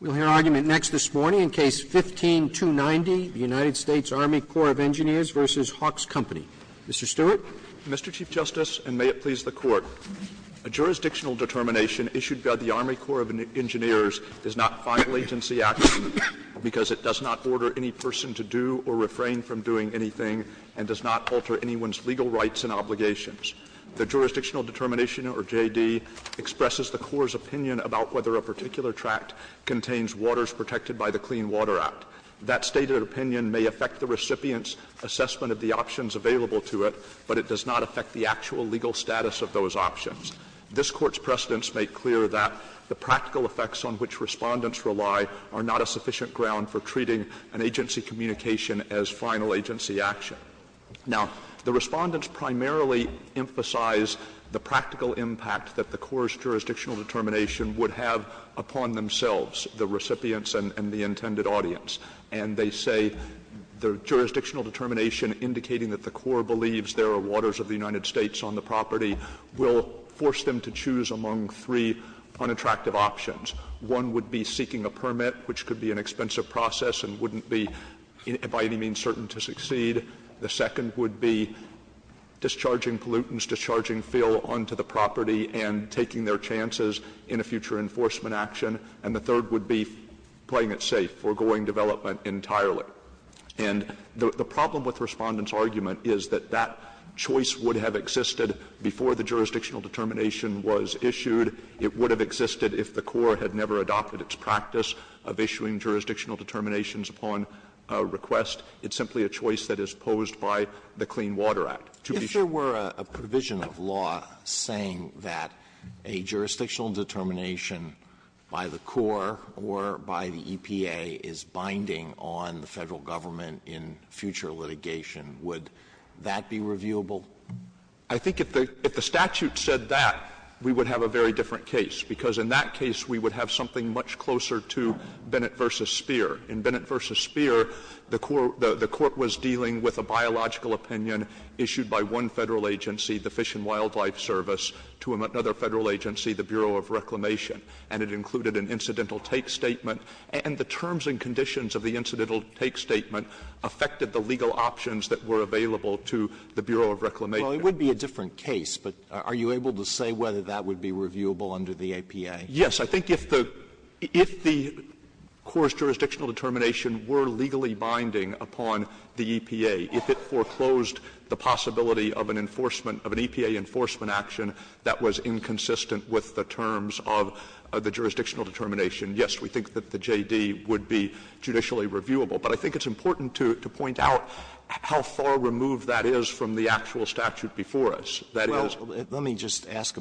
We'll hear argument next this morning in Case No. 15-290, the United States Army Corps of Engineers v. Hawkes Company. Mr. Stewart. Mr. Chief Justice, and may it please the Court, a jurisdictional determination issued by the Army Corps of Engineers does not file agency action because it does not order any person to do or refrain from doing anything and does not alter anyone's legal rights and obligations. The jurisdictional determination, or J.D., expresses the Corps' opinion about whether a particular tract contains waters protected by the Clean Water Act. That stated opinion may affect the recipient's assessment of the options available to it, but it does not affect the actual legal status of those options. This Court's precedents make clear that the practical effects on which Respondents rely are not a sufficient ground for treating an agency communication as final agency action. Now, the Respondents primarily emphasize the practical impact that the Corps' jurisdictional determination would have upon themselves, the recipients and the intended audience. And they say the jurisdictional determination indicating that the Corps believes there are waters of the United States on the property will force them to choose among three unattractive options. One would be seeking a permit, which could be an expensive process and wouldn't be, by any means, certain to succeed. The second would be discharging pollutants, discharging fill onto the property and taking their chances in a future enforcement action. And the third would be playing it safe, foregoing development entirely. And the problem with Respondent's argument is that that choice would have existed before the jurisdictional determination was issued. It would have existed if the Corps had never adopted its practice of issuing jurisdictional determinations upon request. It's simply a choice that is posed by the Clean Water Act. Alito, if there were a provision of law saying that a jurisdictional determination by the Corps or by the EPA is binding on the Federal government in future litigation, would that be reviewable? I think if the statute said that, we would have a very different case, because in that case we would have something much closer to Bennett v. Speer. In Bennett v. Speer, the Court was dealing with a biological opinion issued by one Federal agency, the Fish and Wildlife Service, to another Federal agency, the Bureau of Reclamation, and it included an incidental take statement. And the terms and conditions of the incidental take statement affected the legal options that were available to the Bureau of Reclamation. Well, it would be a different case, but are you able to say whether that would be reviewable under the EPA? Yes. I think if the Corps' jurisdictional determination were legally binding upon the EPA, if it foreclosed the possibility of an enforcement, of an EPA enforcement action that was inconsistent with the terms of the jurisdictional determination, yes, we think that the JD would be judicially reviewable. But I think it's important to point out how far removed that is from the actual statute before us. That is the case.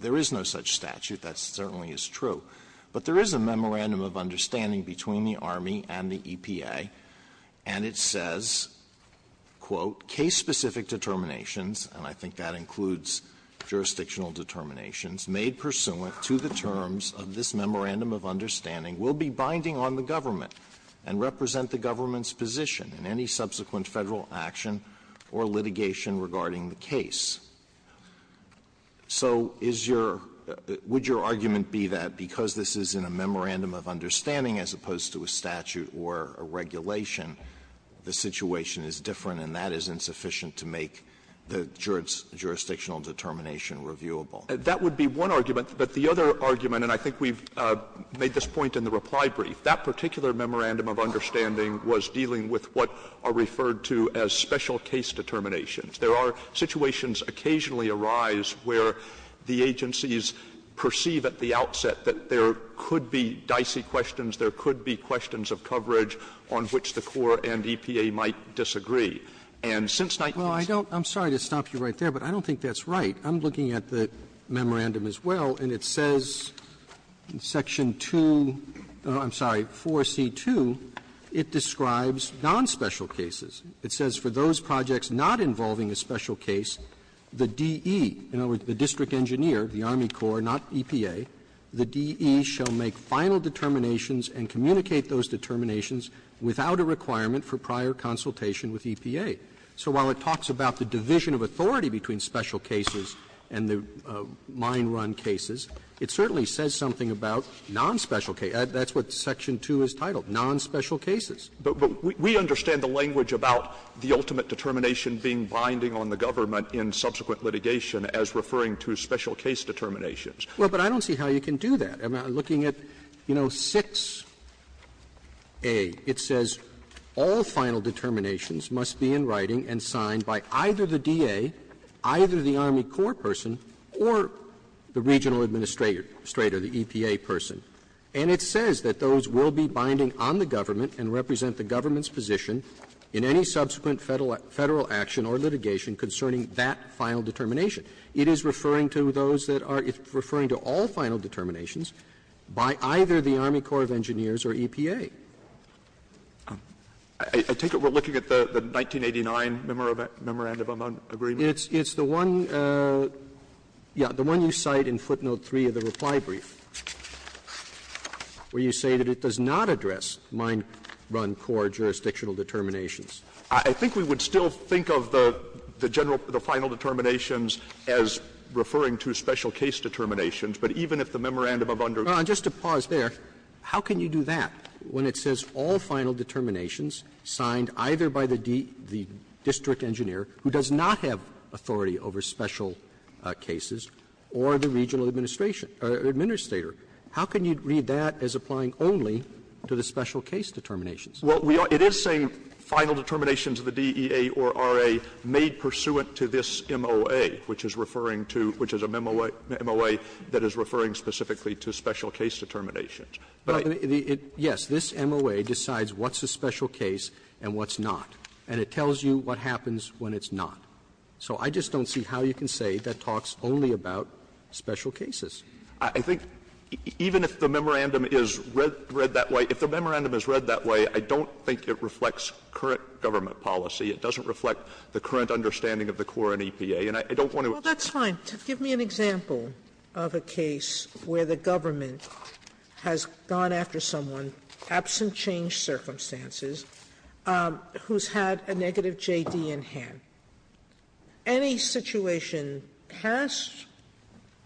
There is no such statute. That certainly is true. But there is a memorandum of understanding between the Army and the EPA, and it says, quote, "'Case-specific determinations,' and I think that includes jurisdictional determinations, made pursuant to the terms of this Memorandum of Understanding will be binding on the government and represent the government's position in any subsequent federal action or litigation regarding the case.'" So is your – would your argument be that because this is in a memorandum of understanding as opposed to a statute or a regulation, the situation is different and that is insufficient to make the jurisdictional determination reviewable? That would be one argument. But the other argument, and I think we've made this point in the reply brief, that particular memorandum of understanding was dealing with what are referred to as special case determinations. There are situations occasionally arise where the agencies perceive at the outset that there could be dicey questions, there could be questions of coverage on which the Corps and EPA might disagree. And since 19— Robertson, I'm sorry to stop you right there, but I don't think that's right. I'm looking at the memorandum as well, and it says in Section 2 – oh, I'm sorry, 4C2, it describes non-special cases. It says, "...for those projects not involving a special case, the DE, in other words, the district engineer, the Army Corps, not EPA, the DE shall make final determinations and communicate those determinations without a requirement for prior consultation with EPA." So while it talks about the division of authority between special cases and the mine run cases, it certainly says something about non-special cases. That's what Section 2 is titled, non-special cases. But we understand the language about the ultimate determination being binding on the government in subsequent litigation as referring to special case determinations. Well, but I don't see how you can do that. I'm looking at, you know, 6A. It says, "...all final determinations must be in writing and signed by either the DE, either the Army Corps person, or the regional administrator, the EPA person." And it says that those will be binding on the government and represent the government's position in any subsequent Federal action or litigation concerning that final determination. It is referring to those that are referring to all final determinations by either the Army Corps of Engineers or EPA. I take it we're looking at the 1989 memorandum of agreement? It's the one, yeah, the one you cite in footnote 3 of the reply brief. Where you say that it does not address mind-run core jurisdictional determinations. I think we would still think of the general, the final determinations as referring to special case determinations. But even if the memorandum of underground Just to pause there, how can you do that when it says all final determinations signed either by the district engineer, who does not have authority over special case cases, or the regional administration, or administrator? How can you read that as applying only to the special case determinations? Well, it is saying final determinations of the DEA or RA made pursuant to this MOA, which is referring to, which is a MOA that is referring specifically to special case determinations. Yes, this MOA decides what's a special case and what's not, and it tells you what happens when it's not. So I just don't see how you can say that talks only about special cases. I think even if the memorandum is read that way, if the memorandum is read that way, I don't think it reflects current government policy. It doesn't reflect the current understanding of the core in EPA, and I don't want to Well, that's fine. Give me an example of a case where the government has gone after someone, absent change circumstances, who's had a negative J.D. in hand. Any situation past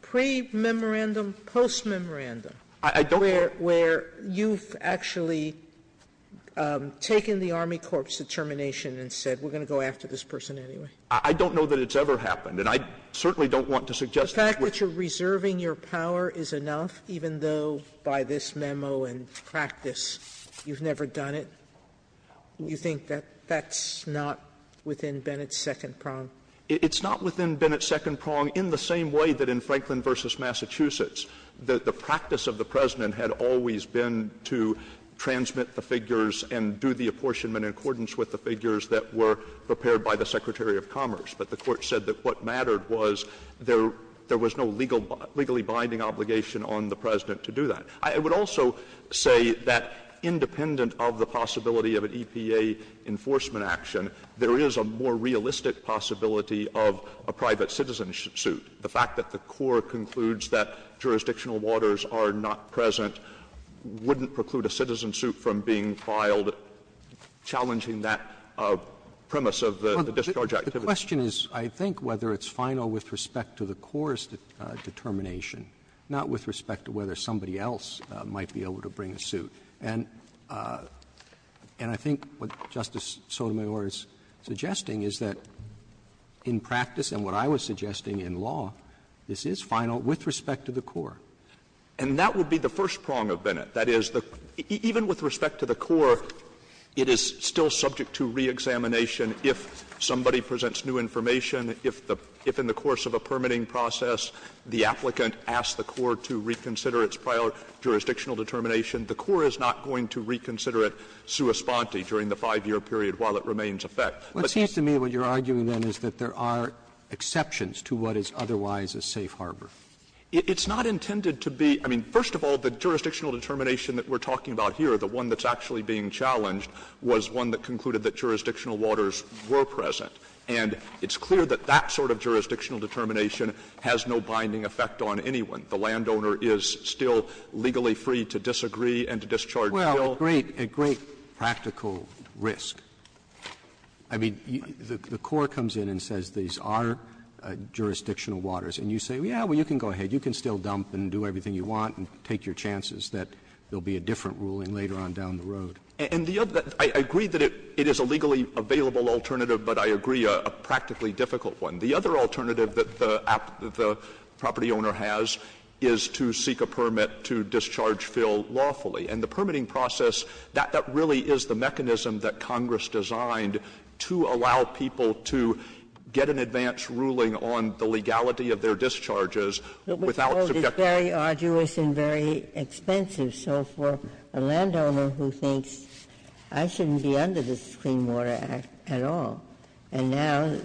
pre-memorandum, post-memorandum where you've actually taken the Army Corps' determination and said we're going to go after this person anyway? I don't know that it's ever happened, and I certainly don't want to suggest that it's The fact that you're reserving your power is enough, even though by this memo and practice you've never done it? You think that that's not within Bennett's second prong? It's not within Bennett's second prong in the same way that in Franklin v. Massachusetts the practice of the President had always been to transmit the figures and do the apportionment in accordance with the figures that were prepared by the Secretary of Commerce. But the Court said that what mattered was there was no legally binding obligation on the President to do that. I would also say that independent of the possibility of an EPA enforcement action, there is a more realistic possibility of a private citizen suit. The fact that the Corps concludes that jurisdictional waters are not present wouldn't preclude a citizen suit from being filed, challenging that premise of the discharge activity. The question is, I think, whether it's final with respect to the Corps' determination, not with respect to whether somebody else might be able to bring a suit. And I think what Justice Sotomayor is suggesting is that in practice and what I was suggesting in law, this is final with respect to the Corps. And that would be the first prong of Bennett. That is, even with respect to the Corps, it is still subject to reexamination if somebody presents new information, if in the course of a permitting process the applicant asks the Corps to reconsider its prior jurisdictional determination, the Corps is not going to reconsider it sua sponte during the 5-year period while it remains effective. Roberts' What seems to me that what you are arguing, then, is that there are exceptions to what is otherwise a safe harbor. It's not intended to be — I mean, first of all, the jurisdictional determination that we're talking about here, the one that's actually being challenged, was one that concluded that jurisdictional waters were present. And it's clear that that sort of jurisdictional determination has no binding effect on anyone. The landowner is still legally free to disagree and to discharge the bill. Roberts' Well, a great, a great practical risk. I mean, the Corps comes in and says these are jurisdictional waters. And you say, yeah, well, you can go ahead. You can still dump and do everything you want and take your chances that there will be a different ruling later on down the road. And the other thing, I agree that it is a legally available alternative, but I agree a practically difficult one. The other alternative that the property owner has is to seek a permit to discharge Phil lawfully. And the permitting process, that really is the mechanism that Congress designed to allow people to get an advance ruling on the legality of their discharges without subjecting them to a penalty. Ginsburg's argument is, I shouldn't be under this Clean Water Act at all, and now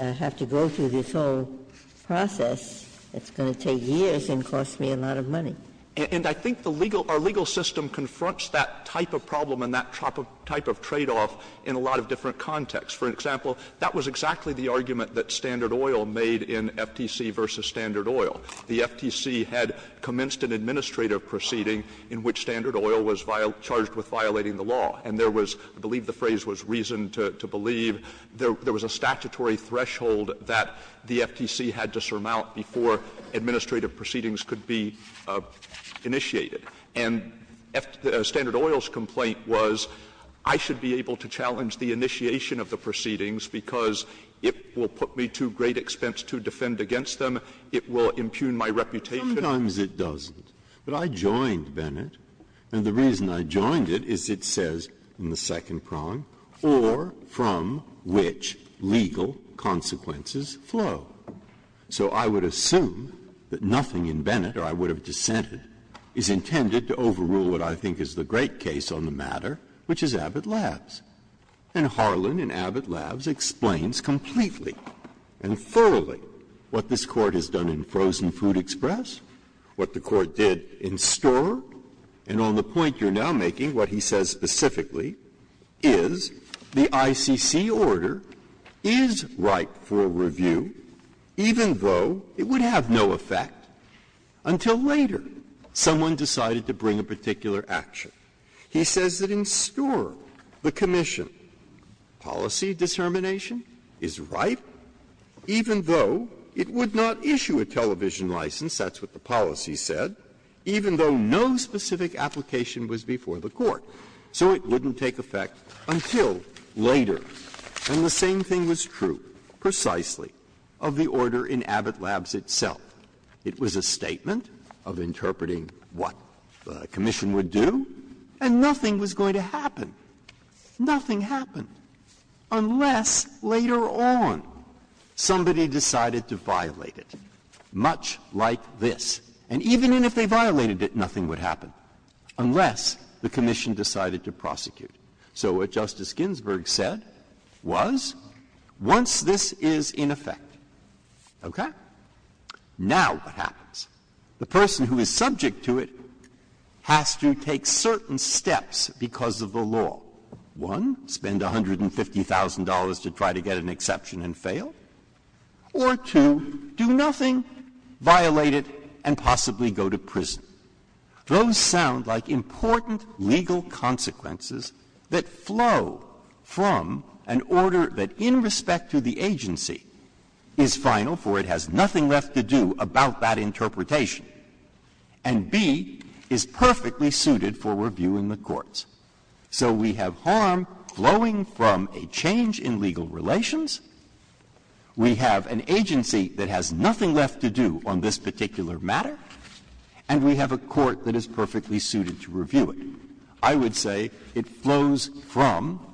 I have to go through this whole process that's going to take years and cost me a lot of money. And I think the legal or legal system confronts that type of problem and that type of tradeoff in a lot of different contexts. For example, that was exactly the argument that Standard Oil made in FTC v. Standard Oil. The FTC had commenced an administrative proceeding in which Standard Oil was charged with violating the law. And there was, I believe the phrase was reasoned to believe, there was a statutory threshold that the FTC had to surmount before administrative proceedings could be initiated. And Standard Oil's complaint was, I should be able to challenge the initiation of the proceedings because it will put me to great expense to defend against them, and it will impugn my reputation. Breyer. Sometimes it doesn't, but I joined Bennett, and the reason I joined it is it says in the second prong, or from which legal consequences flow. So I would assume that nothing in Bennett, or I would have dissented, is intended to overrule what I think is the great case on the matter, which is Abbott Labs. And Harlan in Abbott Labs explains completely and thoroughly what this Court has done in Frozen Food Express, what the Court did in Storer, and on the point you're now making, what he says specifically is the ICC order is ripe for review, even though it would have no effect, until later someone decided to bring a particular action. He says that in Storer, the commission policy determination is ripe, even though it would not issue a television license, that's what the policy said, even though no specific application was before the Court. So it wouldn't take effect until later. And the same thing was true, precisely, of the order in Abbott Labs itself. It was a statement of interpreting what the commission would do, and nothing was going to happen. Nothing happened, unless later on somebody decided to violate it, much like this. And even if they violated it, nothing would happen, unless the commission decided to prosecute. So what Justice Ginsburg said was, once this is in effect, okay, the commission has to decide now what happens. The person who is subject to it has to take certain steps because of the law. One, spend $150,000 to try to get an exception and fail, or two, do nothing, violate it, and possibly go to prison. Those sound like important legal consequences that flow from an order that, in respect to the agency, is final, for it has nothing left to do about that interpretation, and, B, is perfectly suited for review in the courts. So we have harm flowing from a change in legal relations, we have an agency that has nothing left to do on this particular matter, and we have a court that is perfectly suited to review it. I would say it flows from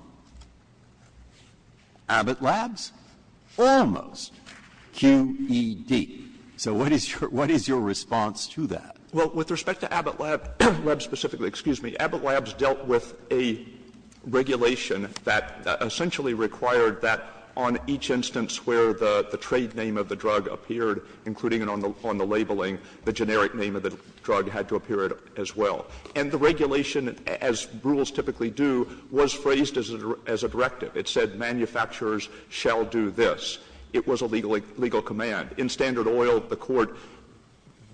Abbott Labs almost, QED. So what is your response to that? Stewarts. Well, with respect to Abbott Labs specifically, excuse me, Abbott Labs dealt with a regulation that essentially required that on each instance where the trade name of the drug appeared, including on the labeling, the generic name of the drug had to appear as well. And the regulation, as rules typically do, was phrased as a directive. It said manufacturers shall do this. It was a legal command. In Standard Oil, the Court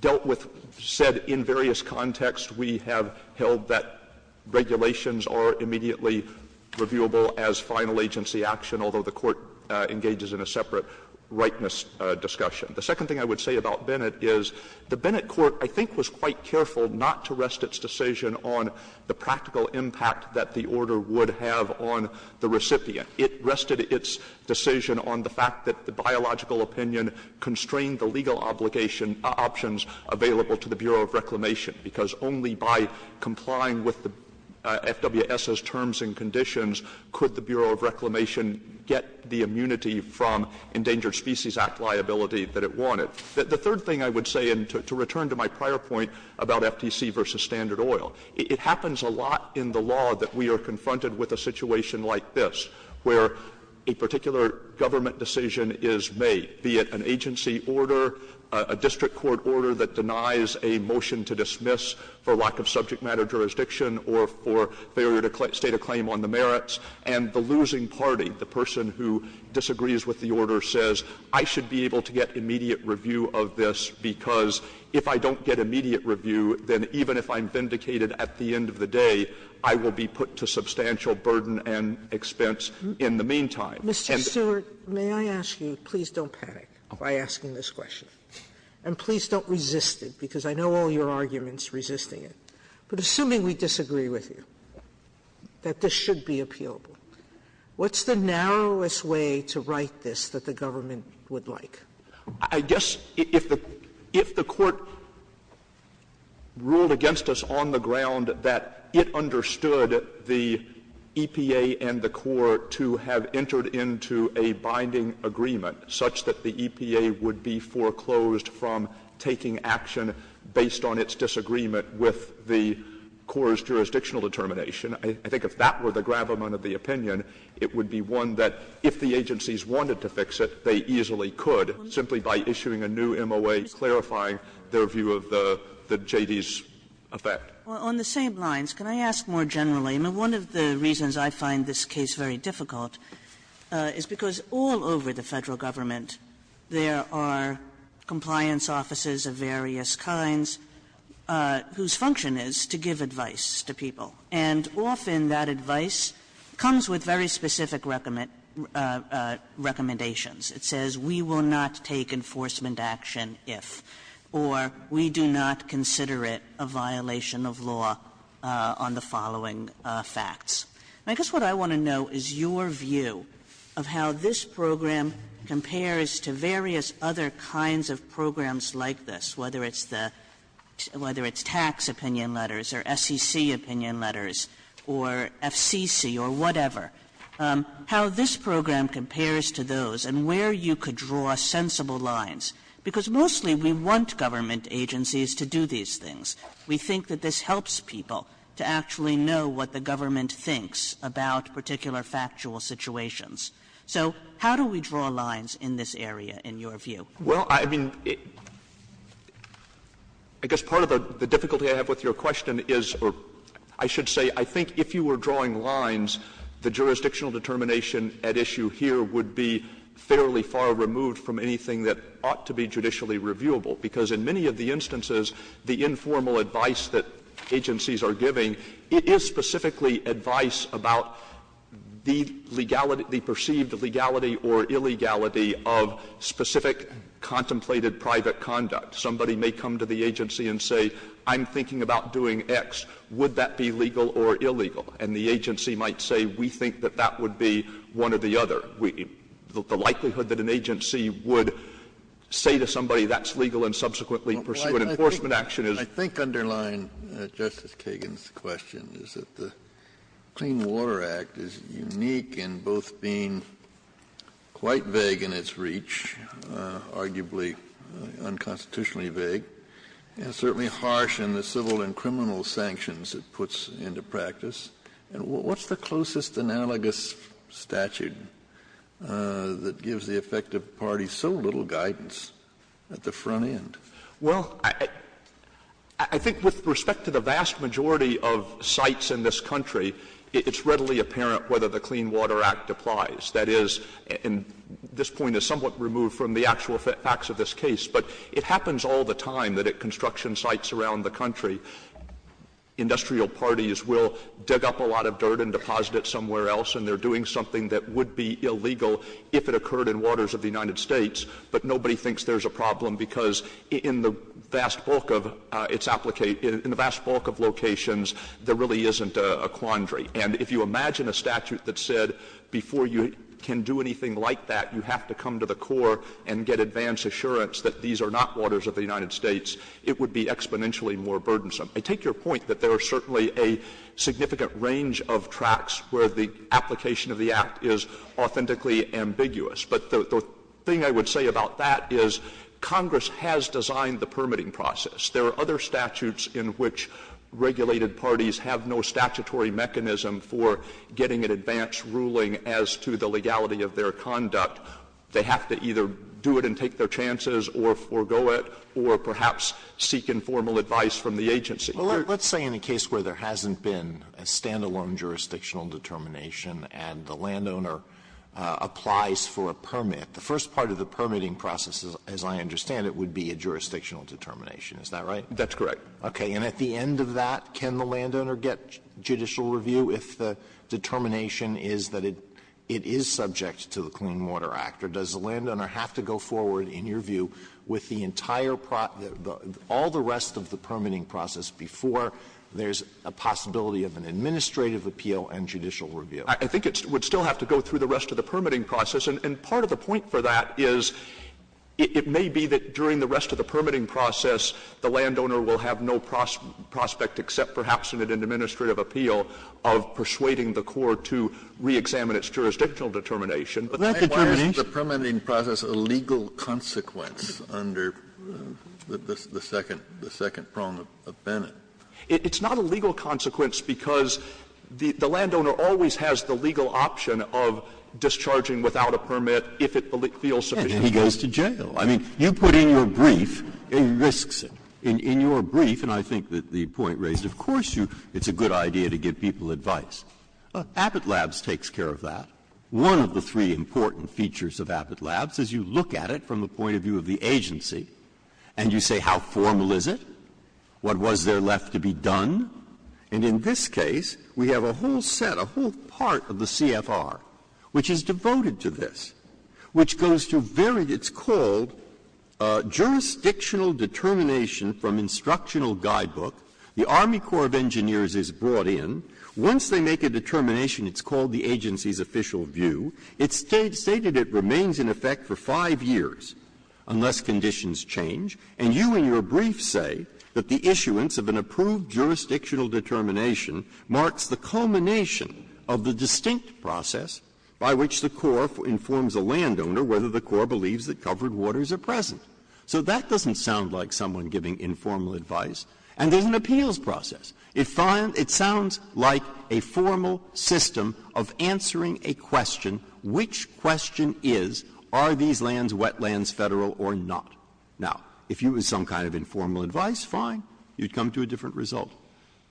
dealt with, said in various contexts, we have held that regulations are immediately reviewable as final agency action, although the Court engages in a separate rightness discussion. The second thing I would say about Bennett is the Bennett court, I think, was quite careful not to rest its decision on the practical impact that the order would have on the recipient. It rested its decision on the fact that the biological opinion constrained the legal obligation options available to the Bureau of Reclamation, because only by complying with the FWS's terms and conditions could the Bureau of Reclamation get the immunity from Endangered Species Act liability that it wanted. The third thing I would say, and to return to my prior point about FTC v. Standard Oil, it happens a lot in the law that we are confronted with a situation like this, where a particular government decision is made, be it an agency order, a district court order that denies a motion to dismiss for lack of subject matter jurisdiction or for failure to state a claim on the merits, and the losing party, the person who gets the immediate review of this, because if I don't get immediate review, then even if I'm vindicated at the end of the day, I will be put to substantial burden and expense in the meantime. Sotomayor, may I ask you, please don't panic by asking this question, and please don't resist it, because I know all your arguments resisting it. But assuming we disagree with you, that this should be appealable, what's the narrowest way to write this that the government would like? Stewart. I guess if the Court ruled against us on the ground that it understood the EPA and the Corps to have entered into a binding agreement such that the EPA would be foreclosed from taking action based on its disagreement with the Corps' jurisdictional determination, I think if that were the gravamen of the opinion, it would be one that if the agencies wanted to fix it, they easily could simply by issuing a new MOA clarifying their view of the J.D.'s effect. Kagan. On the same lines, can I ask more generally? I mean, one of the reasons I find this case very difficult is because all over the Federal government there are compliance officers of various kinds whose function is to give advice to people. And often that advice comes with very specific recommendations. It says, we will not take enforcement action if, or we do not consider it a violation of law on the following facts. And I guess what I want to know is your view of how this program compares to various other kinds of programs like this, whether it's the tax opinion letters or SEC opinion letters or FCC or whatever, how this program compares to those and where you could draw sensible lines, because mostly we want government agencies to do these things. We think that this helps people to actually know what the government thinks about particular factual situations. So how do we draw lines in this area, in your view? Well, I mean, I guess part of the difficulty I have with your question is, or I should say, I think if you were drawing lines, the jurisdictional determination at issue here would be fairly far removed from anything that ought to be judicially reviewable, because in many of the instances, the informal advice that agencies are giving, it is specifically advice about the legality, the perceived legality or illegality of specific contemplated private conduct. Somebody may come to the agency and say, I'm thinking about doing X. Would that be legal or illegal? And the agency might say, we think that that would be one or the other. The likelihood that an agency would say to somebody that's legal and subsequently pursue an enforcement action is the same. Kennedy. I think underlying Justice Kagan's question is that the Clean Water Act is unique in both being quite vague in its reach, arguably unconstitutionally vague, and certainly harsh in the civil and criminal sanctions it puts into practice. And what's the closest analogous statute that gives the effective party so little guidance at the front end? Well, I think with respect to the vast majority of sites in this country, it's readily apparent whether the Clean Water Act applies. That is, and this point is somewhat removed from the actual facts of this case, but it happens all the time that at construction sites around the country, industrial parties will dig up a lot of dirt and deposit it somewhere else, and they're doing something that would be illegal if it occurred in waters of the United States, but nobody thinks there's a problem, because in the vast bulk of its — in the vast bulk of locations, there really isn't a quandary. And if you imagine a statute that said before you can do anything like that, you have to come to the core and get advance assurance that these are not waters of the United States, it would be exponentially more burdensome. I take your point that there are certainly a significant range of tracks where the application of the Act is authentically ambiguous. But the thing I would say about that is Congress has designed the permitting process. There are other statutes in which regulated parties have no statutory mechanism for getting an advance ruling as to the legality of their conduct. They have to either do it and take their chances or forego it, or perhaps seek informal advice from the agency. Alito, let's say in a case where there hasn't been a stand-alone jurisdictional determination and the landowner applies for a permit, the first part of the permitting process, as I understand it, would be a jurisdictional determination. Is that right? That's correct. Okay. And at the end of that, can the landowner get judicial review if the determination is that it is subject to the Clean Water Act? Or does the landowner have to go forward, in your view, with the entire pro — all the rest of the permitting process before there's a possibility of an administrative appeal and judicial review? I think it would still have to go through the rest of the permitting process. And part of the point for that is it may be that during the rest of the permitting process, the landowner will have no prospect except perhaps in an administrative appeal of persuading the court to reexamine its jurisdictional determination. But that requires the permitting process a legal consequence under the second prong of Bennett. It's not a legal consequence because the landowner always has the legal option of discharging without a permit if it feels sufficient. And he goes to jail. I mean, you put in your brief, and he risks it. In your brief, and I think that the point raised, of course you — it's a good idea to give people advice. Abbott Labs takes care of that. One of the three important features of Abbott Labs is you look at it from the point of view of the agency, and you say how formal is it, what was there left to be done. And in this case, we have a whole set, a whole part of the CFR which is devoted to this, which goes to very — it's called jurisdictional determination from instructional guidebook. The Army Corps of Engineers is brought in. Once they make a determination, it's called the agency's official view. It's stated it remains in effect for five years unless conditions change. And you in your brief say that the issuance of an approved jurisdictional So that doesn't sound like someone giving informal advice. And there's an appeals process. It sounds like a formal system of answering a question, which question is, are these lands wetlands Federal or not? Now, if it was some kind of informal advice, fine. You'd come to a different result.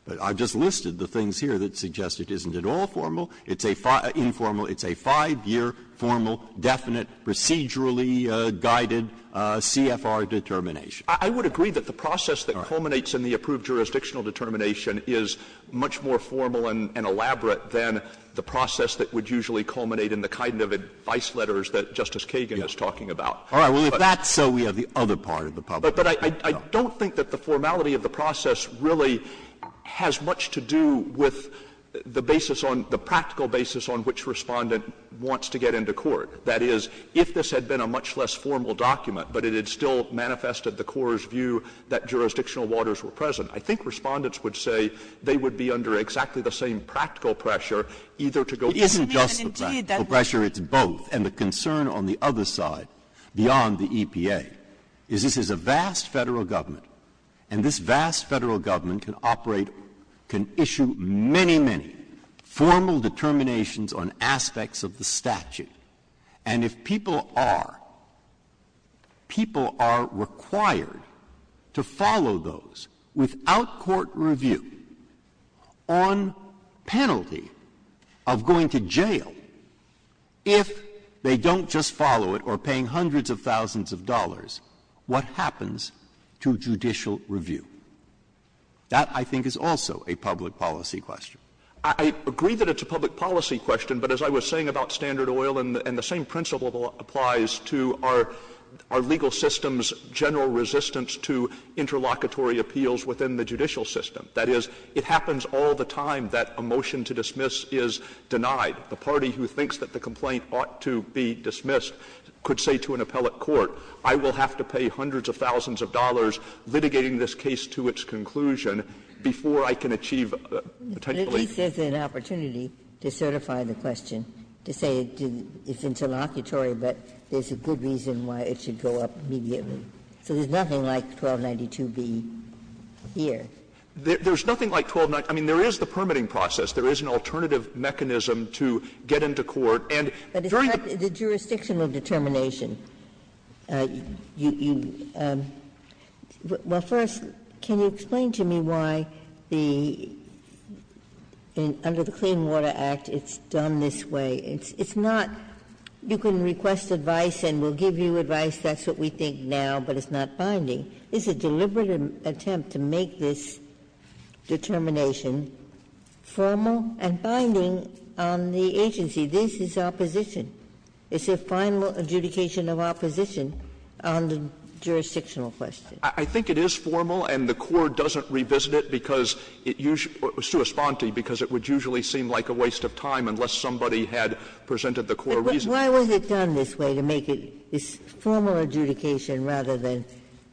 But I've just listed the things here that suggest it isn't at all formal. It's a five-year formal, definite, procedurally guided CFR determination. I would agree that the process that culminates in the approved jurisdictional determination is much more formal and elaborate than the process that would usually culminate in the kind of advice letters that Justice Kagan is talking about. All right. Well, if that's so, we have the other part of the problem. But I don't think that the formality of the process really has much to do with the basis on the practical basis on which respondent wants to get into court. That is, if this had been a much less formal document, but it had still manifested the CORE's view that jurisdictional waters were present, I think respondents would say they would be under exactly the same practical pressure, either to go It isn't just the practical pressure. It's both. And the concern on the other side, beyond the EPA, is this is a vast Federal Government, and this vast Federal Government can operate, can issue many, many formal determinations on aspects of the statute. And if people are, people are required to follow those without court review on penalty of going to jail, if they don't just follow it or paying hundreds of thousands of dollars to judicial review. That, I think, is also a public policy question. I agree that it's a public policy question, but as I was saying about Standard Oil and the same principle applies to our legal system's general resistance to interlocutory appeals within the judicial system. That is, it happens all the time that a motion to dismiss is denied. The party who thinks that the complaint ought to be dismissed could say to an appellate I will have to pay hundreds of thousands of dollars litigating this case to its conclusion before I can achieve potentially Ginsburg's opportunity to certify the question, to say it's interlocutory, but there's a good reason why it should go up immediately. So there's nothing like 1292b here. There's nothing like 1292. I mean, there is the permitting process. There is an alternative mechanism to get into court and during the jurisdictional determination, you – well, first, can you explain to me why the – under the Clean Water Act, it's done this way. It's not you can request advice and we'll give you advice. That's what we think now, but it's not binding. It's a deliberate attempt to make this determination formal and binding on the agency. This is opposition. It's a final adjudication of opposition on the jurisdictional question. I think it is formal, and the court doesn't revisit it because it usually – sui sponte, because it would usually seem like a waste of time unless somebody had presented the core reason. But why was it done this way, to make it a formal adjudication rather than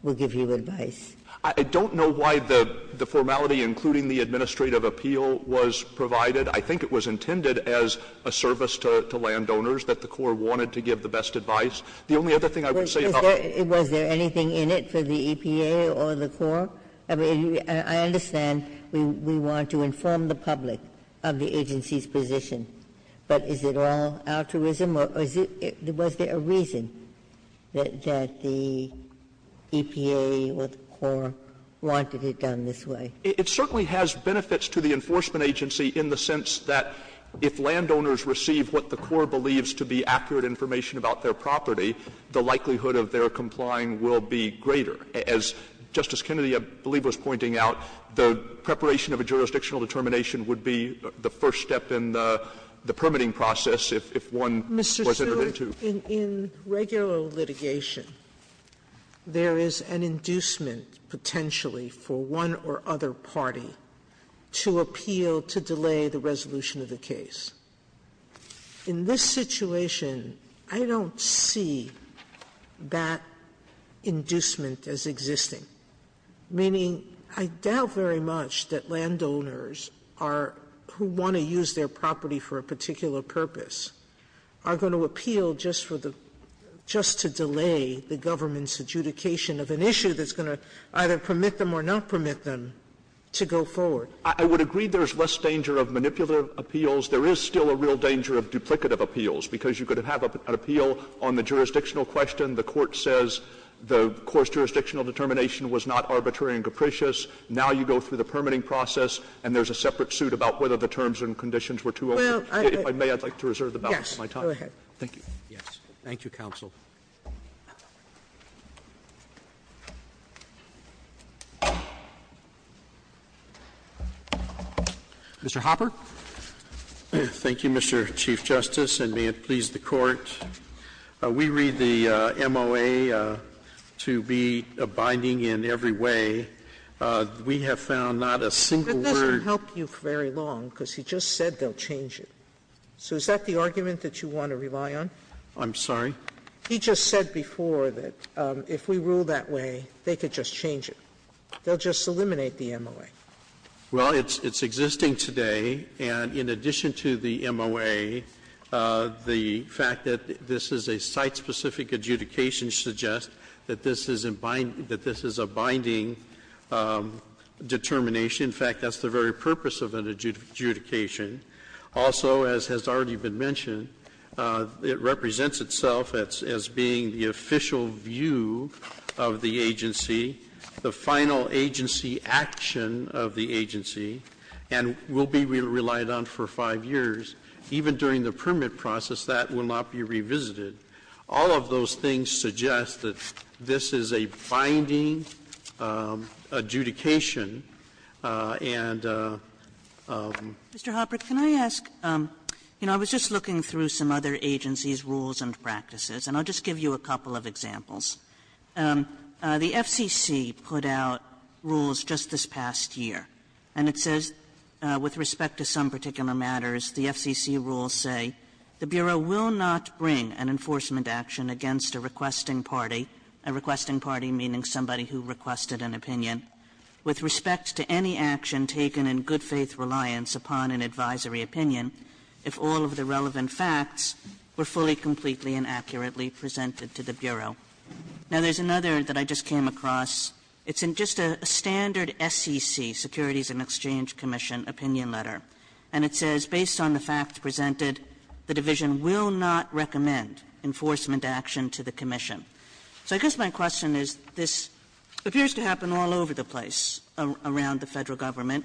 we'll give you advice? I don't know why the formality, including the administrative appeal, was provided. I think it was intended as a service to landowners, that the core wanted to give the best advice. The only other thing I would say about it is that it's not binding on the agency. Ginsburg. Was there anything in it for the EPA or the core? I mean, I understand we want to inform the public of the agency's position, but is it all altruism or is it – was there a reason that the EPA or the core wanted it done this way? It certainly has benefits to the enforcement agency in the sense that if landowners receive what the core believes to be accurate information about their property, the likelihood of their complying will be greater. As Justice Kennedy, I believe, was pointing out, the preparation of a jurisdictional determination would be the first step in the permitting process if one was entered into. Sotomayor, in regular litigation, there is an inducement potentially for one or other party to appeal to delay the resolution of the case. In this situation, I don't see that inducement as existing, meaning I doubt very much that landowners are – who want to use their property for a particular purpose – are going to appeal just for the – just to delay the government's adjudication of an issue that's going to either permit them or not permit them to go forward. I would agree there's less danger of manipulative appeals. There is still a real danger of duplicative appeals, because you could have an appeal on the jurisdictional question. The court says the core's jurisdictional determination was not arbitrary and capricious. Now you go through the permitting process and there's a separate suit about whether the terms and conditions were too over. If I may, I'd like to reserve the balance of my time. Sotomayor, thank you. Roberts, thank you, counsel. Mr. Hopper. Hopper, thank you, Mr. Chief Justice, and may it please the Court. We read the MOA to be binding in every way. We have found not a single word. Sotomayor, I can't help you for very long, because he just said they'll change it. So is that the argument that you want to rely on? I'm sorry? He just said before that if we rule that way, they could just change it. They'll just eliminate the MOA. Well, it's existing today, and in addition to the MOA, the fact that this is a site-specific adjudication suggests that this is a binding determination. In fact, that's the very purpose of an adjudication. Also, as has already been mentioned, it represents itself as being the official view of the agency, the final agency action of the agency, and will be relied on for 5 years. Even during the permit process, that will not be revisited. All of those things suggest that this is a binding adjudication, and that's why we want to rely on it and not change it. And Mr. Hopper, can I ask, you know, I was just looking through some other agencies' rules and practices, and I'll just give you a couple of examples. The FCC put out rules just this past year. And it says, with respect to some particular matters, the FCC rules say the Bureau will not bring an enforcement action against a requesting party, a requesting party, meaning somebody who requested an opinion, with respect to any action taken in good faith reliance upon an advisory opinion, if all of the relevant facts were fully, completely, and accurately presented to the Bureau. Now, there's another that I just came across. It's in just a standard SEC, Securities and Exchange Commission, opinion letter. And it says, based on the facts presented, the division will not recommend enforcement action to the commission. So I guess my question is, this appears to happen all over the place around the Federal Government,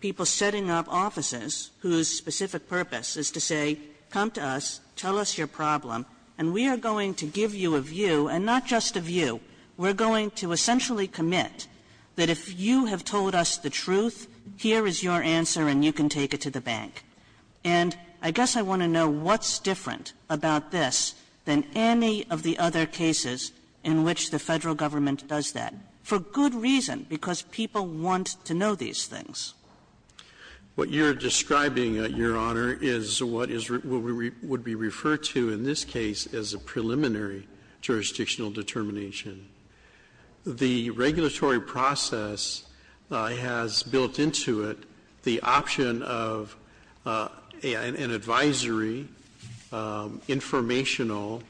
people setting up offices whose specific purpose is to say, come to us, tell us your problem, and we are going to give you a view, and not just a view. We're going to essentially commit that if you have told us the truth, here is your And I guess I want to know what's different about this than any of the other cases in which the Federal Government does that, for good reason, because people want to know these things. What you're describing, Your Honor, is what is what we would be referred to in this case as a preliminary jurisdictional determination. The regulatory process has built into it the option of the Federal Government getting an advisory, informational,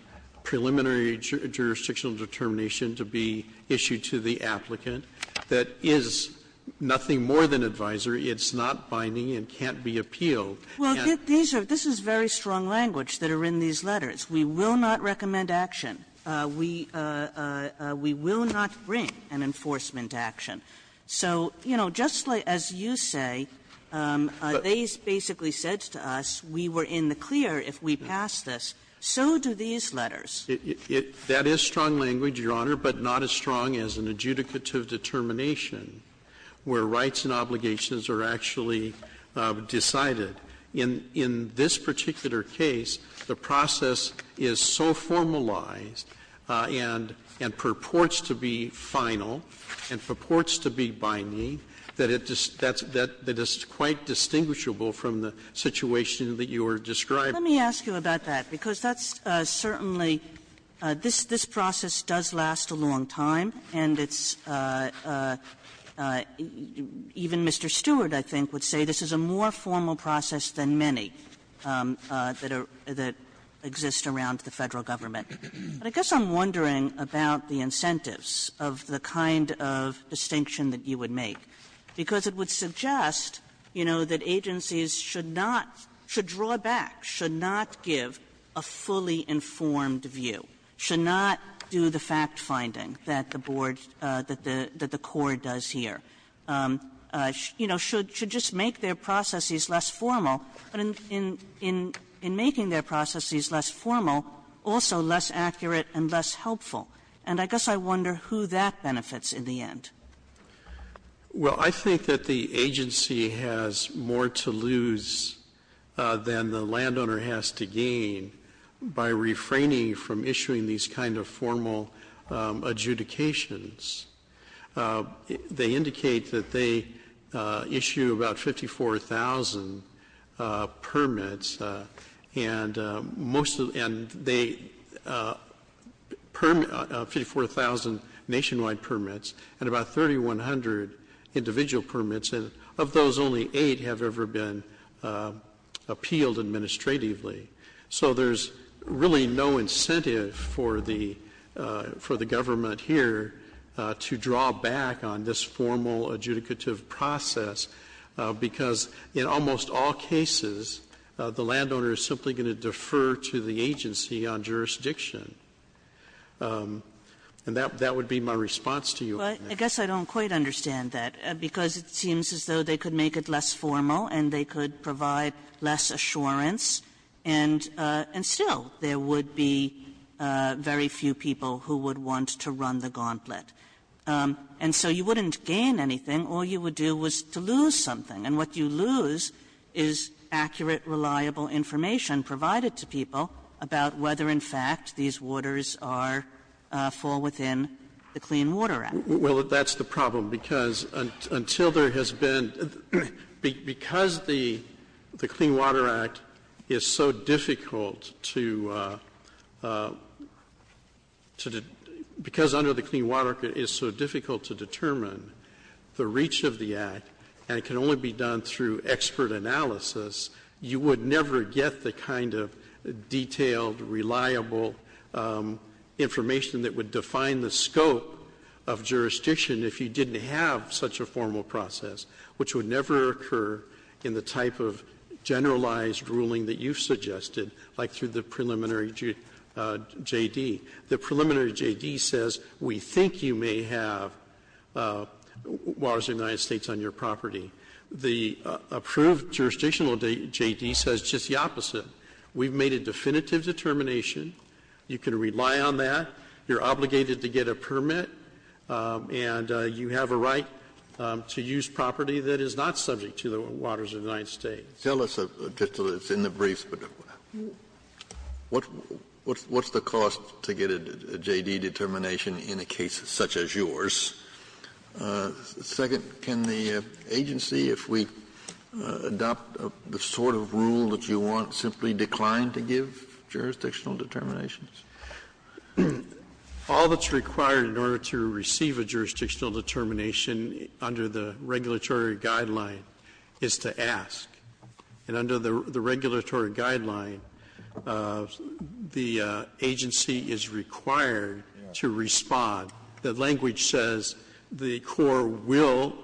preliminary jurisdictional determination to be issued to the applicant that is nothing more than advisory. It's not binding and can't be appealed. And these are, this is very strong language that are in these letters. We will not recommend action. We will not bring an enforcement action. So, you know, just as you say, they basically said to us, we were in the clear if we passed this. So do these letters. That is strong language, Your Honor, but not as strong as an adjudicative determination where rights and obligations are actually decided. In this particular case, the process is so formalized and purports to be final and purports to be binding that it's quite distinguishable from the situation that you are describing. Kagan Let me ask you about that, because that's certainly, this process does last a long time, and it's, even Mr. Stewart, I think, would say this is a more formal process than many that exist around the Federal Government. But I guess I'm wondering about the incentives of the kind of distinction that you would make, because it would suggest, you know, that agencies should not draw back, should not give a fully informed view, should not do the fact-finding that the board, that the court does here. You know, should just make their processes less formal, but in making their processes less formal, also less accurate and less helpful. And I guess I wonder who that benefits in the end. Stewart Well, I think that the agency has more to lose than the landowner has to gain by refraining from issuing these kind of formal adjudications. They indicate that they issue about 54,000 permits, and most of them, and they permit, 54,000 nationwide permits, and about 3,100 individual permits, and of those only eight have ever been appealed administratively. So there's really no incentive for the, for the government here to, you know, to draw back on this formal adjudicative process, because in almost all cases, the landowner is simply going to defer to the agency on jurisdiction. And that would be my response to you on that. Kagan Well, I guess I don't quite understand that, because it seems as though they could make it less formal and they could provide less assurance, and still there would be very few people who would want to run the gauntlet. And so you wouldn't gain anything. All you would do was to lose something. And what you lose is accurate, reliable information provided to people about whether, in fact, these waters are, fall within the Clean Water Act. Stewart Well, that's the problem, because until there has been the, because the, the Clean Water Act is so difficult to, to, because under the Clean Water Act it is so difficult to determine the reach of the Act, and it can only be done through expert analysis, you would never get the kind of detailed, reliable information that would define the scope of jurisdiction if you didn't have such a formal process, which would never occur in the type of generalized ruling that you've suggested, like through the preliminary J.D. The preliminary J.D. says we think you may have waters in the United States on your property. The approved jurisdictional J.D. says just the opposite. We've made a definitive determination. You can rely on that. You're obligated to get a permit, and you have a right to use property that is not subject to the waters of the United States. Kennedy Tell us, just so it's in the brief, what's the cost to get a J.D. determination in a case such as yours? Second, can the agency, if we adopt the sort of rule that you want, simply decline to give jurisdictional determinations? Stewart All that's required in order to receive a jurisdictional determination under the regulatory guideline is to ask. And under the regulatory guideline, the agency is required to respond. The language says the Corps will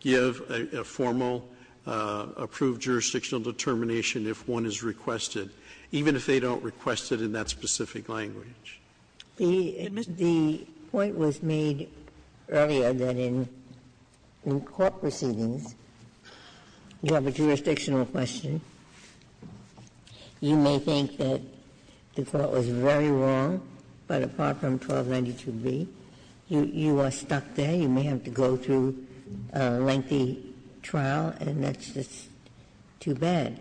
give a formal approved jurisdictional determination if one is requested, even if they don't request it in that specific language. Ginsburg The point was made earlier that in court proceedings, you have a jurisdictional question. You may think that the Court was very wrong, but apart from 1292b, you are stuck there. You may have to go through a lengthy trial, and that's just too bad.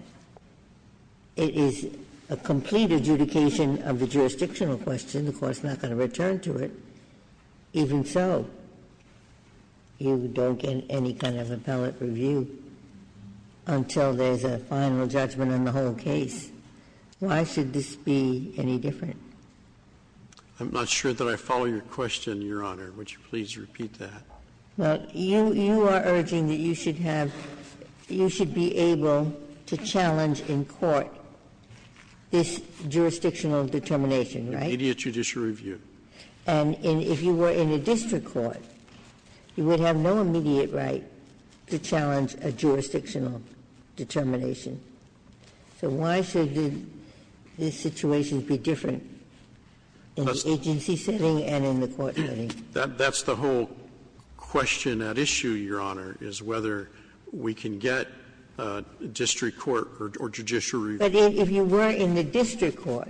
It is a complete adjudication of the jurisdictional question. The Court's not going to return to it. Even so, you don't get any kind of appellate review until there's a final judgment on the whole case. Why should this be any different? Stewart I'm not sure that I follow your question, Your Honor. Would you please repeat that? Ginsburg Well, you are urging that you should have you should be able to challenge in court this jurisdictional determination, right? Stewart Immediate judicial review. Ginsburg And if you were in a district court, you would have no immediate right to challenge a jurisdictional determination. So why should this situation be different in the agency setting and in the court setting? Stewart That's the whole question at issue, Your Honor, is whether we can get district court or judicial review. Ginsburg But if you were in the district court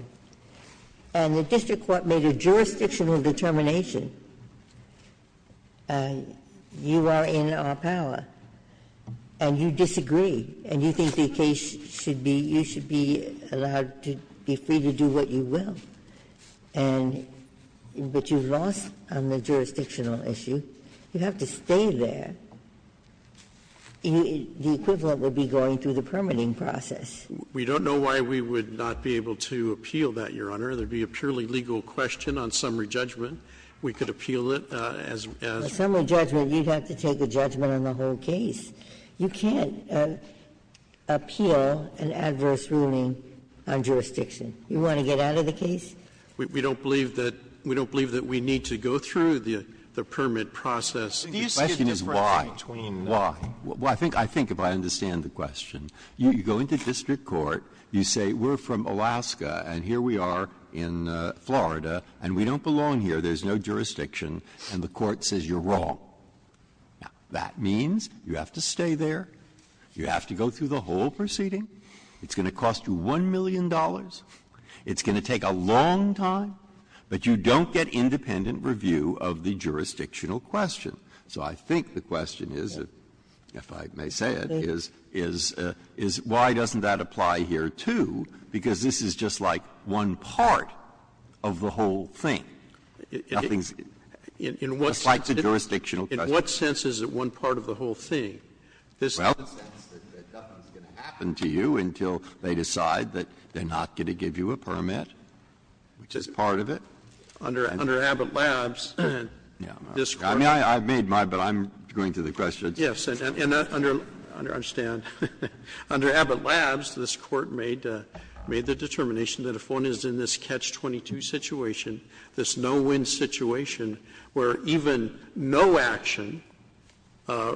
and the district court made a jurisdictional determination, you are in our power, and you disagree, and you think the case should be you should be allowed to be free to do what you will, and but you've lost on the jurisdictional issue, you have to stay there. The equivalent would be going through the permitting process. Stewart We don't know why we would not be able to appeal that, Your Honor. There would be a purely legal question on summary judgment. We could appeal it as we asked. Ginsburg A summary judgment, you'd have to take a judgment on the whole case. You can't appeal an adverse ruling on jurisdiction. You want to get out of the case? We don't believe that we need to go through the permit process. Breyer The question is why. Why? I think if I understand the question, you go into district court, you say we're from Alaska and here we are in Florida, and we don't belong here, there's no jurisdiction, and the court says you're wrong. Now, that means you have to stay there, you have to go through the whole proceeding, it's going to cost you $1 million. It's going to take a long time, but you don't get independent review of the jurisdictional question. So I think the question is, if I may say it, is why doesn't that apply here, too? Because this is just like one part of the whole thing. Nothing's like the jurisdictional question. Scalia In what sense is it one part of the whole thing? Breyer Under Abbott Labs, this Court made the determination that if one is in this catch-22 situation, this no-win situation, where even no action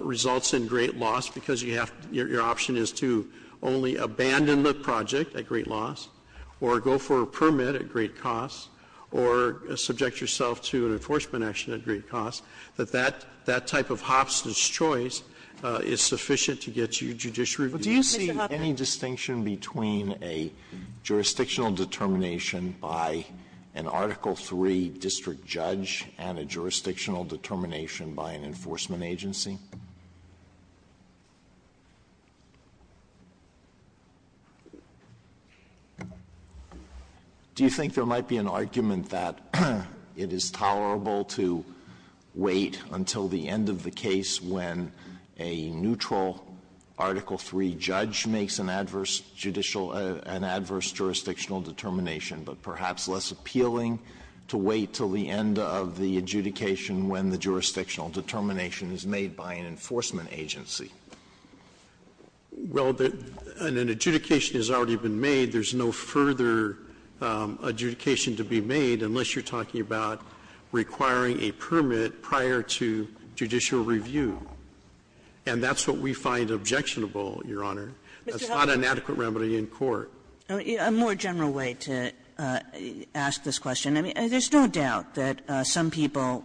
results in great loss because you have to, you're going to have to go through the whole process, you're going to have to, your option is to only abandon the project at great loss, or go for a permit at great cost, or subject yourself to an enforcement action at great cost, that that type of Hobson's choice is sufficient to get you judiciary review. Alito But do you see any distinction between a jurisdictional determination by an Article III district judge and a jurisdictional determination by an enforcement agency? Do you think there might be an argument that it is tolerable to wait until the end of the case when a neutral Article III judge makes an adverse judicial or an adverse jurisdictional determination, but perhaps less appealing to wait until the end of the case when a judge makes an adverse judicial or an adverse judicial determination by an enforcement agency? Well, an adjudication has already been made. There's no further adjudication to be made unless you're talking about requiring a permit prior to judicial review. And that's what we find objectionable, Your Honor. That's not an adequate remedy in court. A more general way to ask this question. I mean, there's no doubt that some people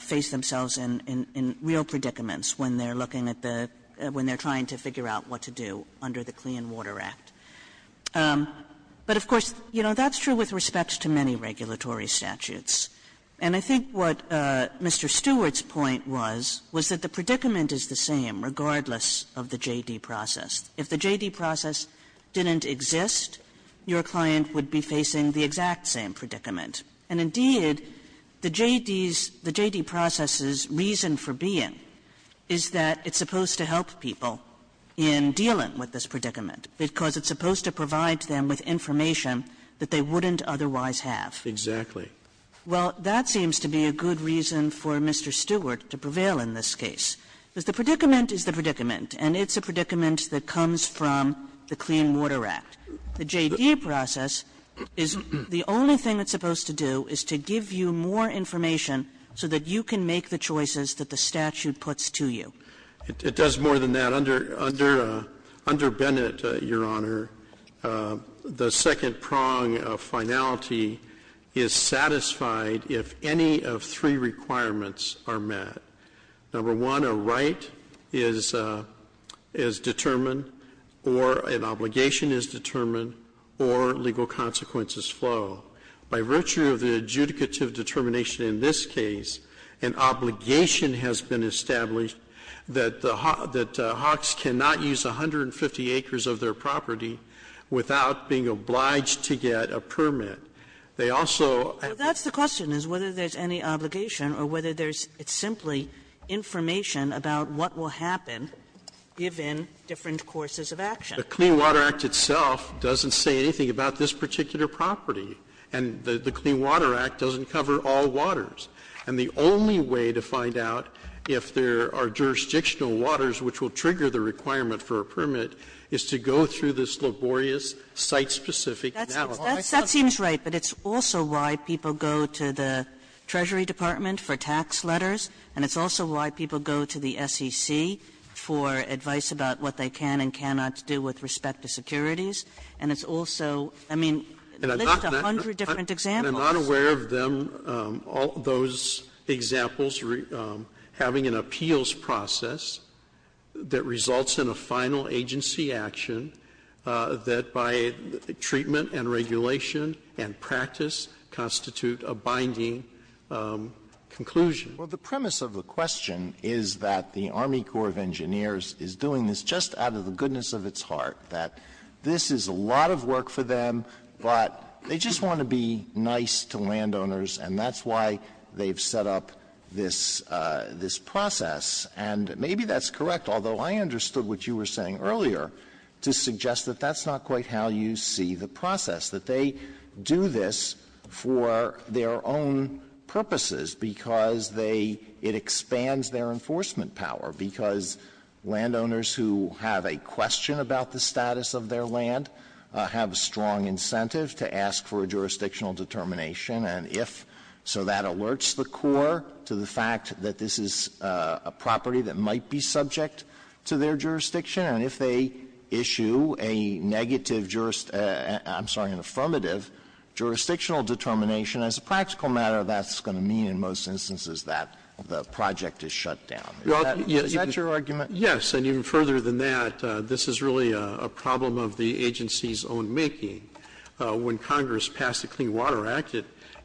face themselves in real predicaments when they're looking at the — when they're trying to figure out what to do under the Clean Water Act. But, of course, you know, that's true with respect to many regulatory statutes. And I think what Mr. Stewart's point was, was that the predicament is the same regardless of the J.D. process. If the J.D. process didn't exist, your client would be facing the exact same predicament. And, indeed, the J.D.'s — the J.D. process's reason for being is that it's supposed to help people in dealing with this predicament, because it's supposed to provide them with information that they wouldn't otherwise have. Exactly. Well, that seems to be a good reason for Mr. Stewart to prevail in this case. Because the predicament is the predicament, and it's a predicament that comes from the Clean Water Act. The J.D. process is — the only thing it's supposed to do is to give you more information so that you can make the choices that the statute puts to you. It does more than that. Under — under Bennett, Your Honor, the second prong of finality is satisfied if any of three requirements are met. Number one, a right is — is determined or an obligation is determined or legal consequences flow. By virtue of the adjudicative determination in this case, an obligation has been established that the — that hawks cannot use 150 acres of their property without being obliged to get a permit. They also have to be — Well, that's the question, is whether there's any obligation or whether there's — it's simply information about what will happen given different courses of action. The Clean Water Act itself doesn't say anything about this particular property. And the Clean Water Act doesn't cover all waters. And the only way to find out if there are jurisdictional waters which will trigger the requirement for a permit is to go through this laborious, site-specific analysis. Kagan. That seems right, but it's also why people go to the Treasury Department for tax letters, and it's also why people go to the SEC for advice about what they can and cannot do with respect to securities. And it's also — I mean, there's a hundred different examples. I'm not aware of them, all those examples, having an appeals process that results in a final agency action that, by treatment and regulation and practice, constitute a binding conclusion. Well, the premise of the question is that the Army Corps of Engineers is doing this just out of the goodness of its heart, that this is a lot of work for them, but they just want to be nice to landowners, and that's why they've set up this — this process. And maybe that's correct, although I understood what you were saying earlier, to suggest that that's not quite how you see the process, that they do this for their own purposes because they — it expands their enforcement power, because landowners who have a question about the status of their land have a strong incentive to ask for a jurisdictional determination, and if — so that alerts the Corps to the property that might be subject to their jurisdiction, and if they issue a negative — I'm sorry, an affirmative jurisdictional determination, as a practical matter, that's going to mean in most instances that the project is shut down. Is that your argument? Yes, and even further than that, this is really a problem of the agency's own making. When Congress passed the Clean Water Act,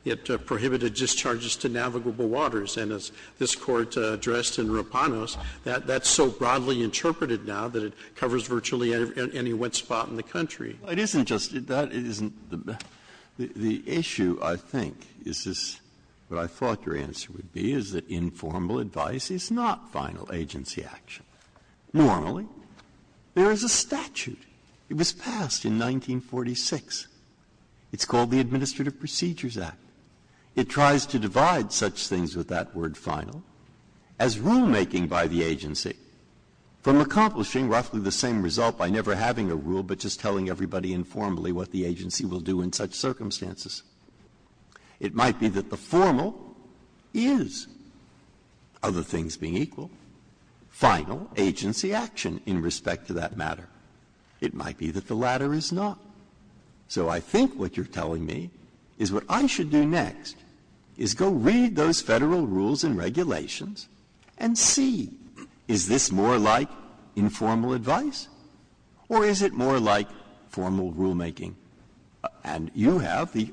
it prohibited discharges to navigable waters, and as this Court addressed in Rapanos, that's so broadly interpreted now that it covers virtually any wet spot in the country. It isn't just — that isn't the — the issue, I think, is this — what I thought your answer would be is that informal advice is not final agency action. Normally, there is a statute. It was passed in 1946. It's called the Administrative Procedures Act. It tries to divide such things with that word final as rulemaking by the agency, from accomplishing roughly the same result by never having a rule but just telling everybody informally what the agency will do in such circumstances. It might be that the formal is, other things being equal, final agency action in respect to that matter. It might be that the latter is not. So I think what you're telling me is what I should do next is go read those Federal rules and regulations and see, is this more like informal advice or is it more like formal rulemaking? And you have the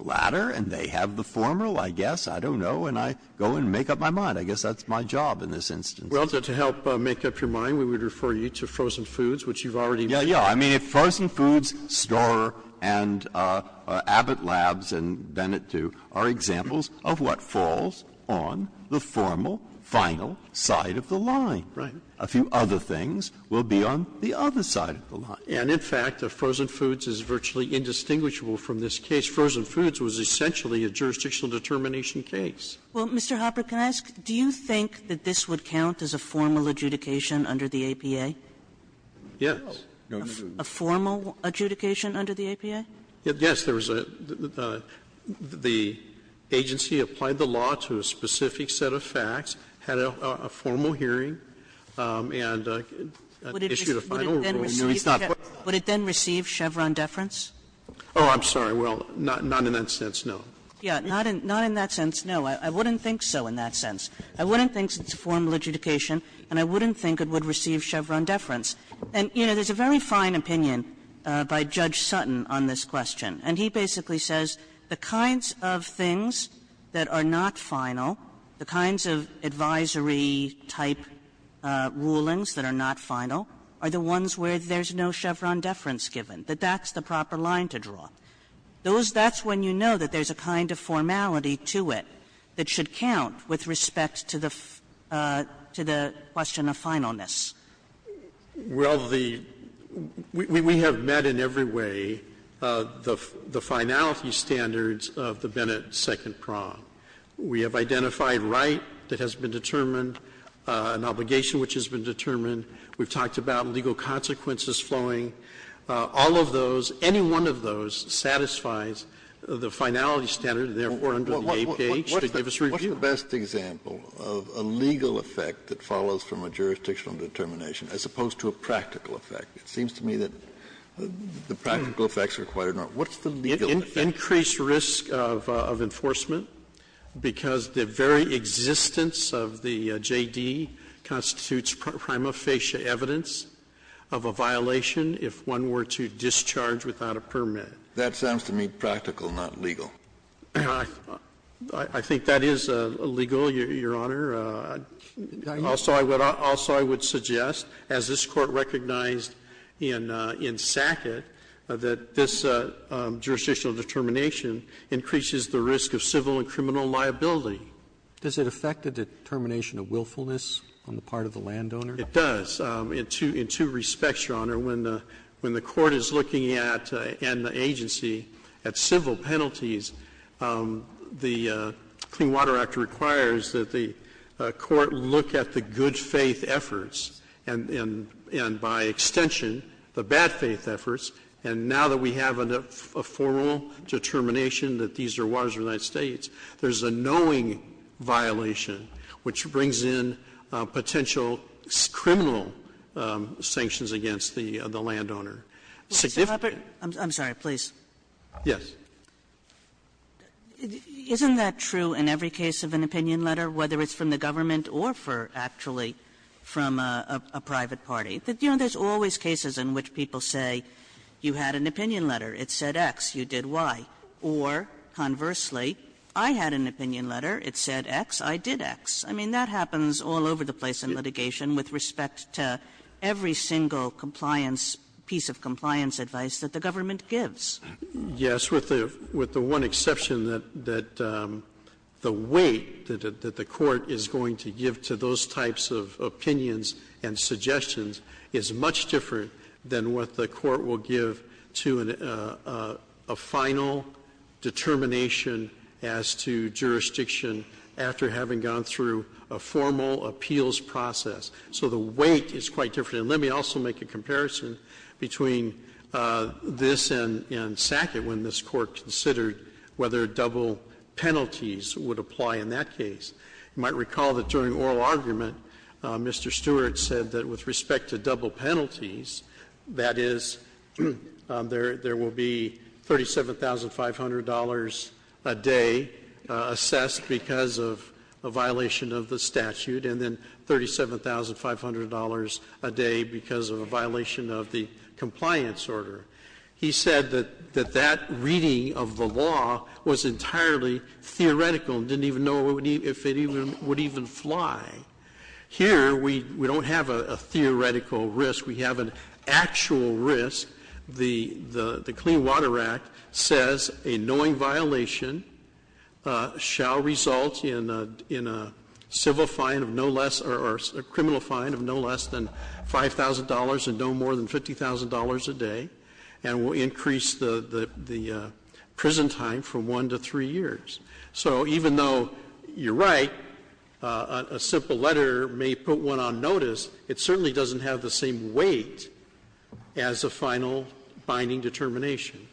latter and they have the formal, I guess. I don't know. And I go and make up my mind. I guess that's my job in this instance. Roberts. Well, to help make up your mind, we would refer you to frozen foods, which you've already mentioned. Yeah, yeah. I mean, if frozen foods, Starr and Abbott Labs and Bennett, too, are examples of what falls on the formal, final side of the line, a few other things will be on the other side of the line. And in fact, if frozen foods is virtually indistinguishable from this case, frozen foods was essentially a jurisdictional determination case. Well, Mr. Hopper, can I ask, do you think that this would count as a formal adjudication under the APA? Yes. A formal adjudication under the APA? Yes. There was a the agency applied the law to a specific set of facts, had a formal hearing, and issued a final ruling. It's not formal. Would it then receive Chevron deference? Oh, I'm sorry. Well, not in that sense, no. Yeah, not in that sense, no. I wouldn't think so in that sense. I wouldn't think it's a formal adjudication and I wouldn't think it would receive Chevron deference. And, you know, there's a very fine opinion by Judge Sutton on this question. And he basically says the kinds of things that are not final, the kinds of advisory type rulings that are not final, are the ones where there's no Chevron deference given, that that's the proper line to draw. Those that's when you know that there's a kind of formality to it that should count with respect to the question of finalness. Well, the we have met in every way the finality standards of the Bennett Second Prompt. We have identified right that has been determined, an obligation which has been determined. We've talked about legal consequences flowing. All of those, any one of those satisfies the finality standard, and therefore under the APH, to give us review. Kennedy, what's the best example of a legal effect that follows from a jurisdictional determination, as opposed to a practical effect? It seems to me that the practical effects are quite enormous. What's the legal effect? Increased risk of enforcement, because the very existence of the JD constitutes prima facie evidence of a violation if one were to discharge without a permit. That sounds to me practical, not legal. I think that is legal, Your Honor. Also, I would suggest, as this Court recognized in Sackett, that this jurisdictional determination increases the risk of civil and criminal liability. Does it affect the determination of willfulness on the part of the landowner? It does, in two respects, Your Honor. When the Court is looking at, and the agency, at civil penalties, the Clean Water Act requires that the Court look at the good faith efforts, and by extension, the bad faith efforts. And now that we have a formal determination that these are waters of the United States, there is a knowing violation which brings in potential criminal sanctions against the landowner. Significant. Kagan. Kagan. I'm sorry, please. Yes. Isn't that true in every case of an opinion letter, whether it's from the government or for, actually, from a private party? You know, there's always cases in which people say you had an opinion letter. It said X. You did Y. Or, conversely, I had an opinion letter. It said X. I did X. I mean, that happens all over the place in litigation with respect to every single compliance, piece of compliance advice that the government gives. Yes. With the one exception that the weight that the Court is going to give to those types of opinions and suggestions is much different than what the Court will give to a final determination as to jurisdiction after having gone through a formal appeals process. So the weight is quite different. And let me also make a comparison between this and Sackett when this Court considered whether double penalties would apply in that case. You might recall that during oral argument, Mr. Stewart said that with respect to double penalties, that is, there will be $37,500 a day assessed because of a violation of the statute, and then $37,500 a day because of a violation of the compliance order. He said that that reading of the law was entirely theoretical and didn't even know if it would even fly. Here, we don't have a theoretical risk. We have an actual risk. The Clean Water Act says a knowing violation shall result in a civil fine of no less or a criminal fine of no less than $5,000 and no more than $50,000 a day, and will increase the prison time from one to three years. So even though you're right, a simple letter may put one on notice, it certainly doesn't have the same weight as a final binding determination.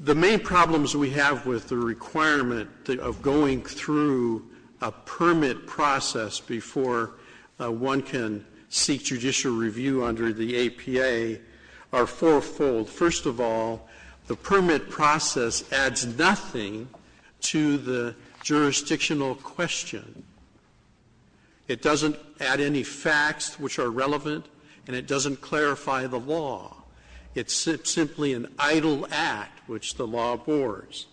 The main problems we have with the requirement of going through a permit process before one can seek judicial review under the APA are fourfold. First of all, the permit process adds nothing to the jurisdictional question. It doesn't add any facts which are relevant, and it doesn't clarify the law. It's simply an idle act which the law abhors.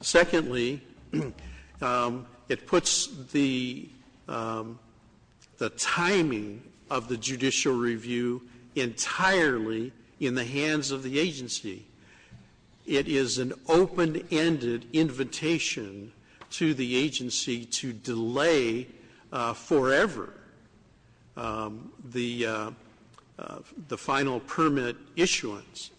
Secondly, it puts the timing of the judicial review entirely in the hands of the APA. It is an open-ended invitation to the agency to delay forever the final permit issuance,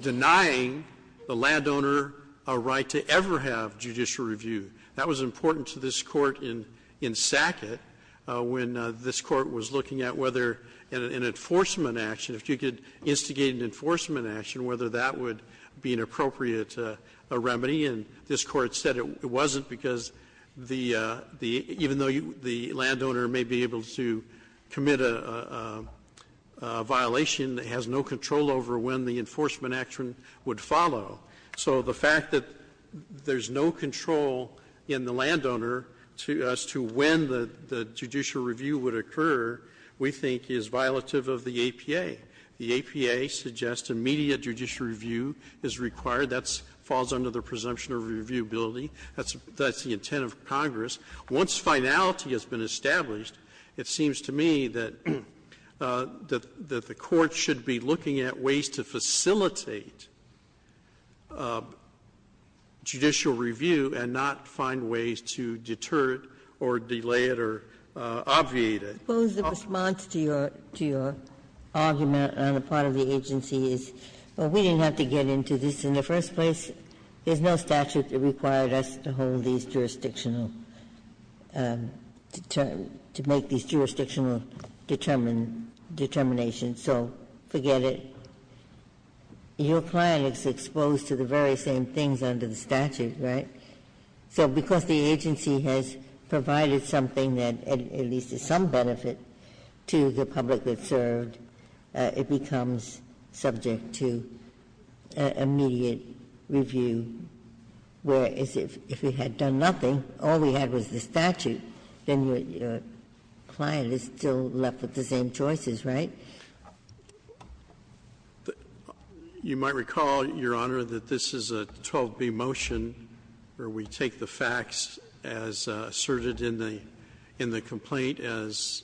denying the landowner a right to ever have judicial review. That was important to this Court in Sackett when this Court was looking at whether an enforcement action, if you could instigate an enforcement action, whether that would be an appropriate remedy. And this Court said it wasn't because the landowner may be able to commit a violation that has no control over when the enforcement action would follow. So the fact that there's no control in the landowner as to when the judicial review would occur, we think is violative of the APA. The APA suggests immediate judicial review is required. That falls under the presumption of reviewability. That's the intent of Congress. Once finality has been established, it seems to me that the Court should be looking at ways to facilitate judicial review and not find ways to deter it or delay it or obviate it. Ginsburg's response to your argument on the part of the agency is, well, we didn't have to get into this in the first place. There's no statute that required us to hold these jurisdictional to make these jurisdictional determinations, so forget it. Your client is exposed to the very same things under the statute, right? So because the agency has provided something that at least is some benefit to the public that served, it becomes subject to immediate review, whereas if we had done nothing, all we had was the statute, then your client is still left with the same choices, right? You might recall, Your Honor, that this is a 12b motion where we take the facts as asserted in the complaint as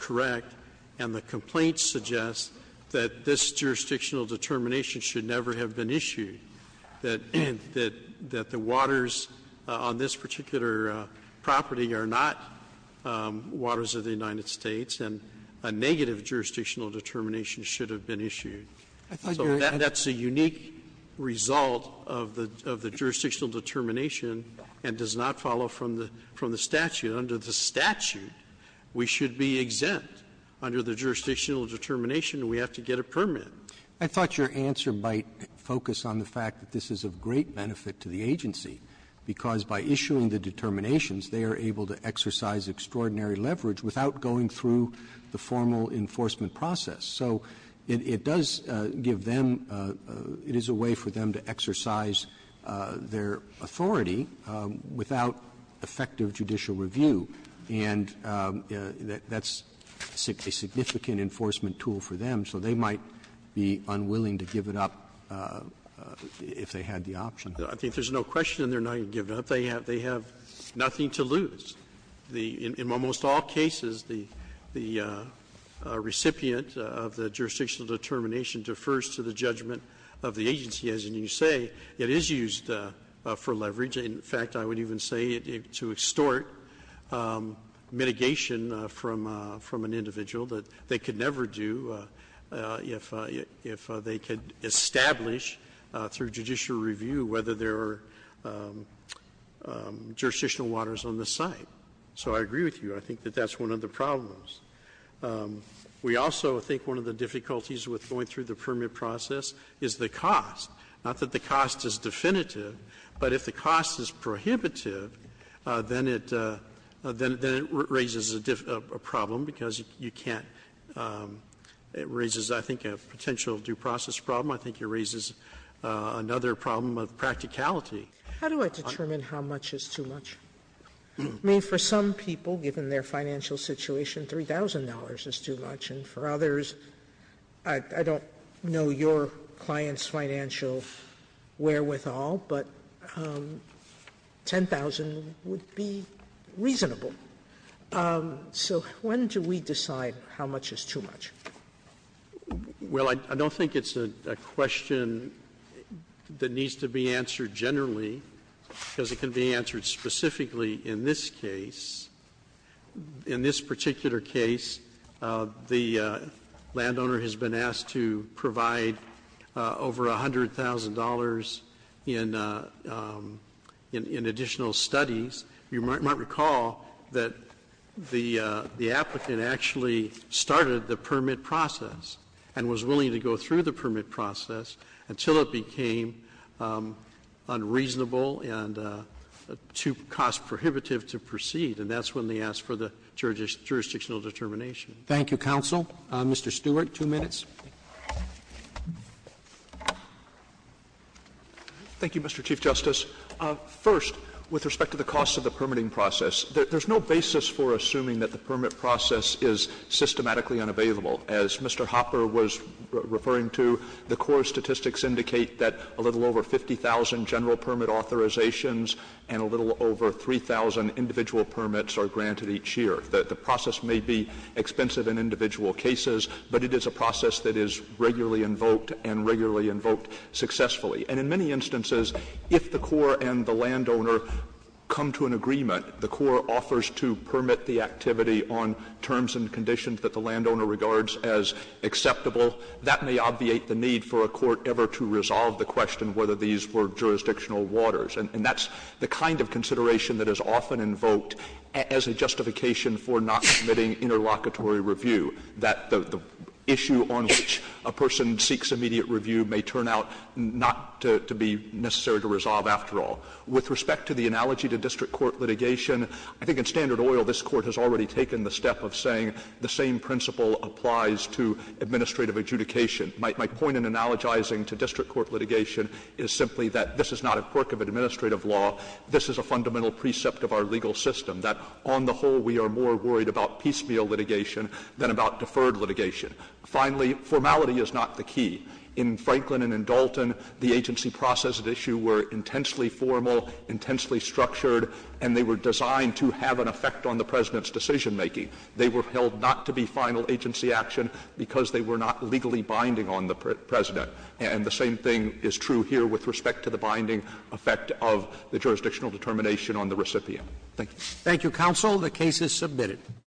correct, and the complaint suggests that this jurisdictional determination should never have been issued, that the waters on this particular property are not waters of the United States, and a negative jurisdictional determination should have been issued. So that's a unique result of the jurisdictional determination and does not follow from the statute. Under the statute, we should be exempt under the jurisdictional determination, and we have to get a permit. Roberts, I thought your answer might focus on the fact that this is of great benefit to the agency, because by issuing the determinations, they are able to exercise extraordinary leverage without going through the formal enforcement process. So it does give them – it is a way for them to exercise their authority without effective judicial review, and that's a significant enforcement tool for them, so they might be unwilling to give it up if they had the option. I think there's no question they're not going to give it up. They have nothing to lose. In almost all cases, the recipient of the jurisdictional determination defers to the judgment of the agency. As you say, it is used for leverage. In fact, I would even say to extort mitigation from an individual that they could never do if they could establish, through judicial review, whether there are jurisdictional waters on the site. So I agree with you. I think that that's one of the problems. We also think one of the difficulties with going through the permit process is the cost. Not that the cost is definitive, but if the cost is prohibitive, then it raises a problem because you can't – it raises, I think, a potential due process problem. I think it raises another problem of practicality. Sotomayor How do I determine how much is too much? I mean, for some people, given their financial situation, $3,000 is too much, and for others, I don't know your client's financial wherewithal, but $10,000 would be reasonable. So when do we decide how much is too much? Well, I don't think it's a question that needs to be answered generally, because it can be answered specifically in this case. In this particular case, the landowner has been asked to provide over $100,000 in additional studies. You might recall that the applicant actually started the permit process and was willing to go through the permit process until it became unreasonable and too cost prohibitive to proceed, and that's when they asked for the jurisdictional determination. Thank you, counsel. Mr. Stewart, two minutes. Thank you, Mr. Chief Justice. First, with respect to the cost of the permitting process, there's no basis for assuming that the permit process is systematically unavailable. As Mr. Hopper was referring to, the core statistics indicate that a little over 50,000 general permit authorizations and a little over 3,000 individual permits are granted each year. The process may be expensive in individual cases, but it is a process that is regularly invoked and regularly invoked successfully. And in many instances, if the core and the landowner come to an agreement, the core offers to permit the activity on terms and conditions that the landowner regards as acceptable, that may obviate the need for a court ever to resolve the question whether these were jurisdictional waters. And that's the kind of consideration that is often invoked as a justification for not submitting interlocutory review, that the issue on which a person seeks immediate review may turn out not to be necessary to resolve after all. With respect to the analogy to district court litigation, I think in standard oil, this Court has already taken the step of saying the same principle applies to administrative adjudication. My point in analogizing to district court litigation is simply that this is not a quirk of administrative law. This is a fundamental precept of our legal system, that on the whole, we are more worried about piecemeal litigation than about deferred litigation. Finally, formality is not the key. In Franklin and in Dalton, the agency process at issue were intensely formal, intensely structured, and they were designed to have an effect on the President's decisionmaking. They were held not to be final agency action because they were not legally binding on the President. And the same thing is true here with respect to the binding effect of the jurisdictional determination on the recipient. Thank you. Roberts. Thank you, counsel. The case is submitted.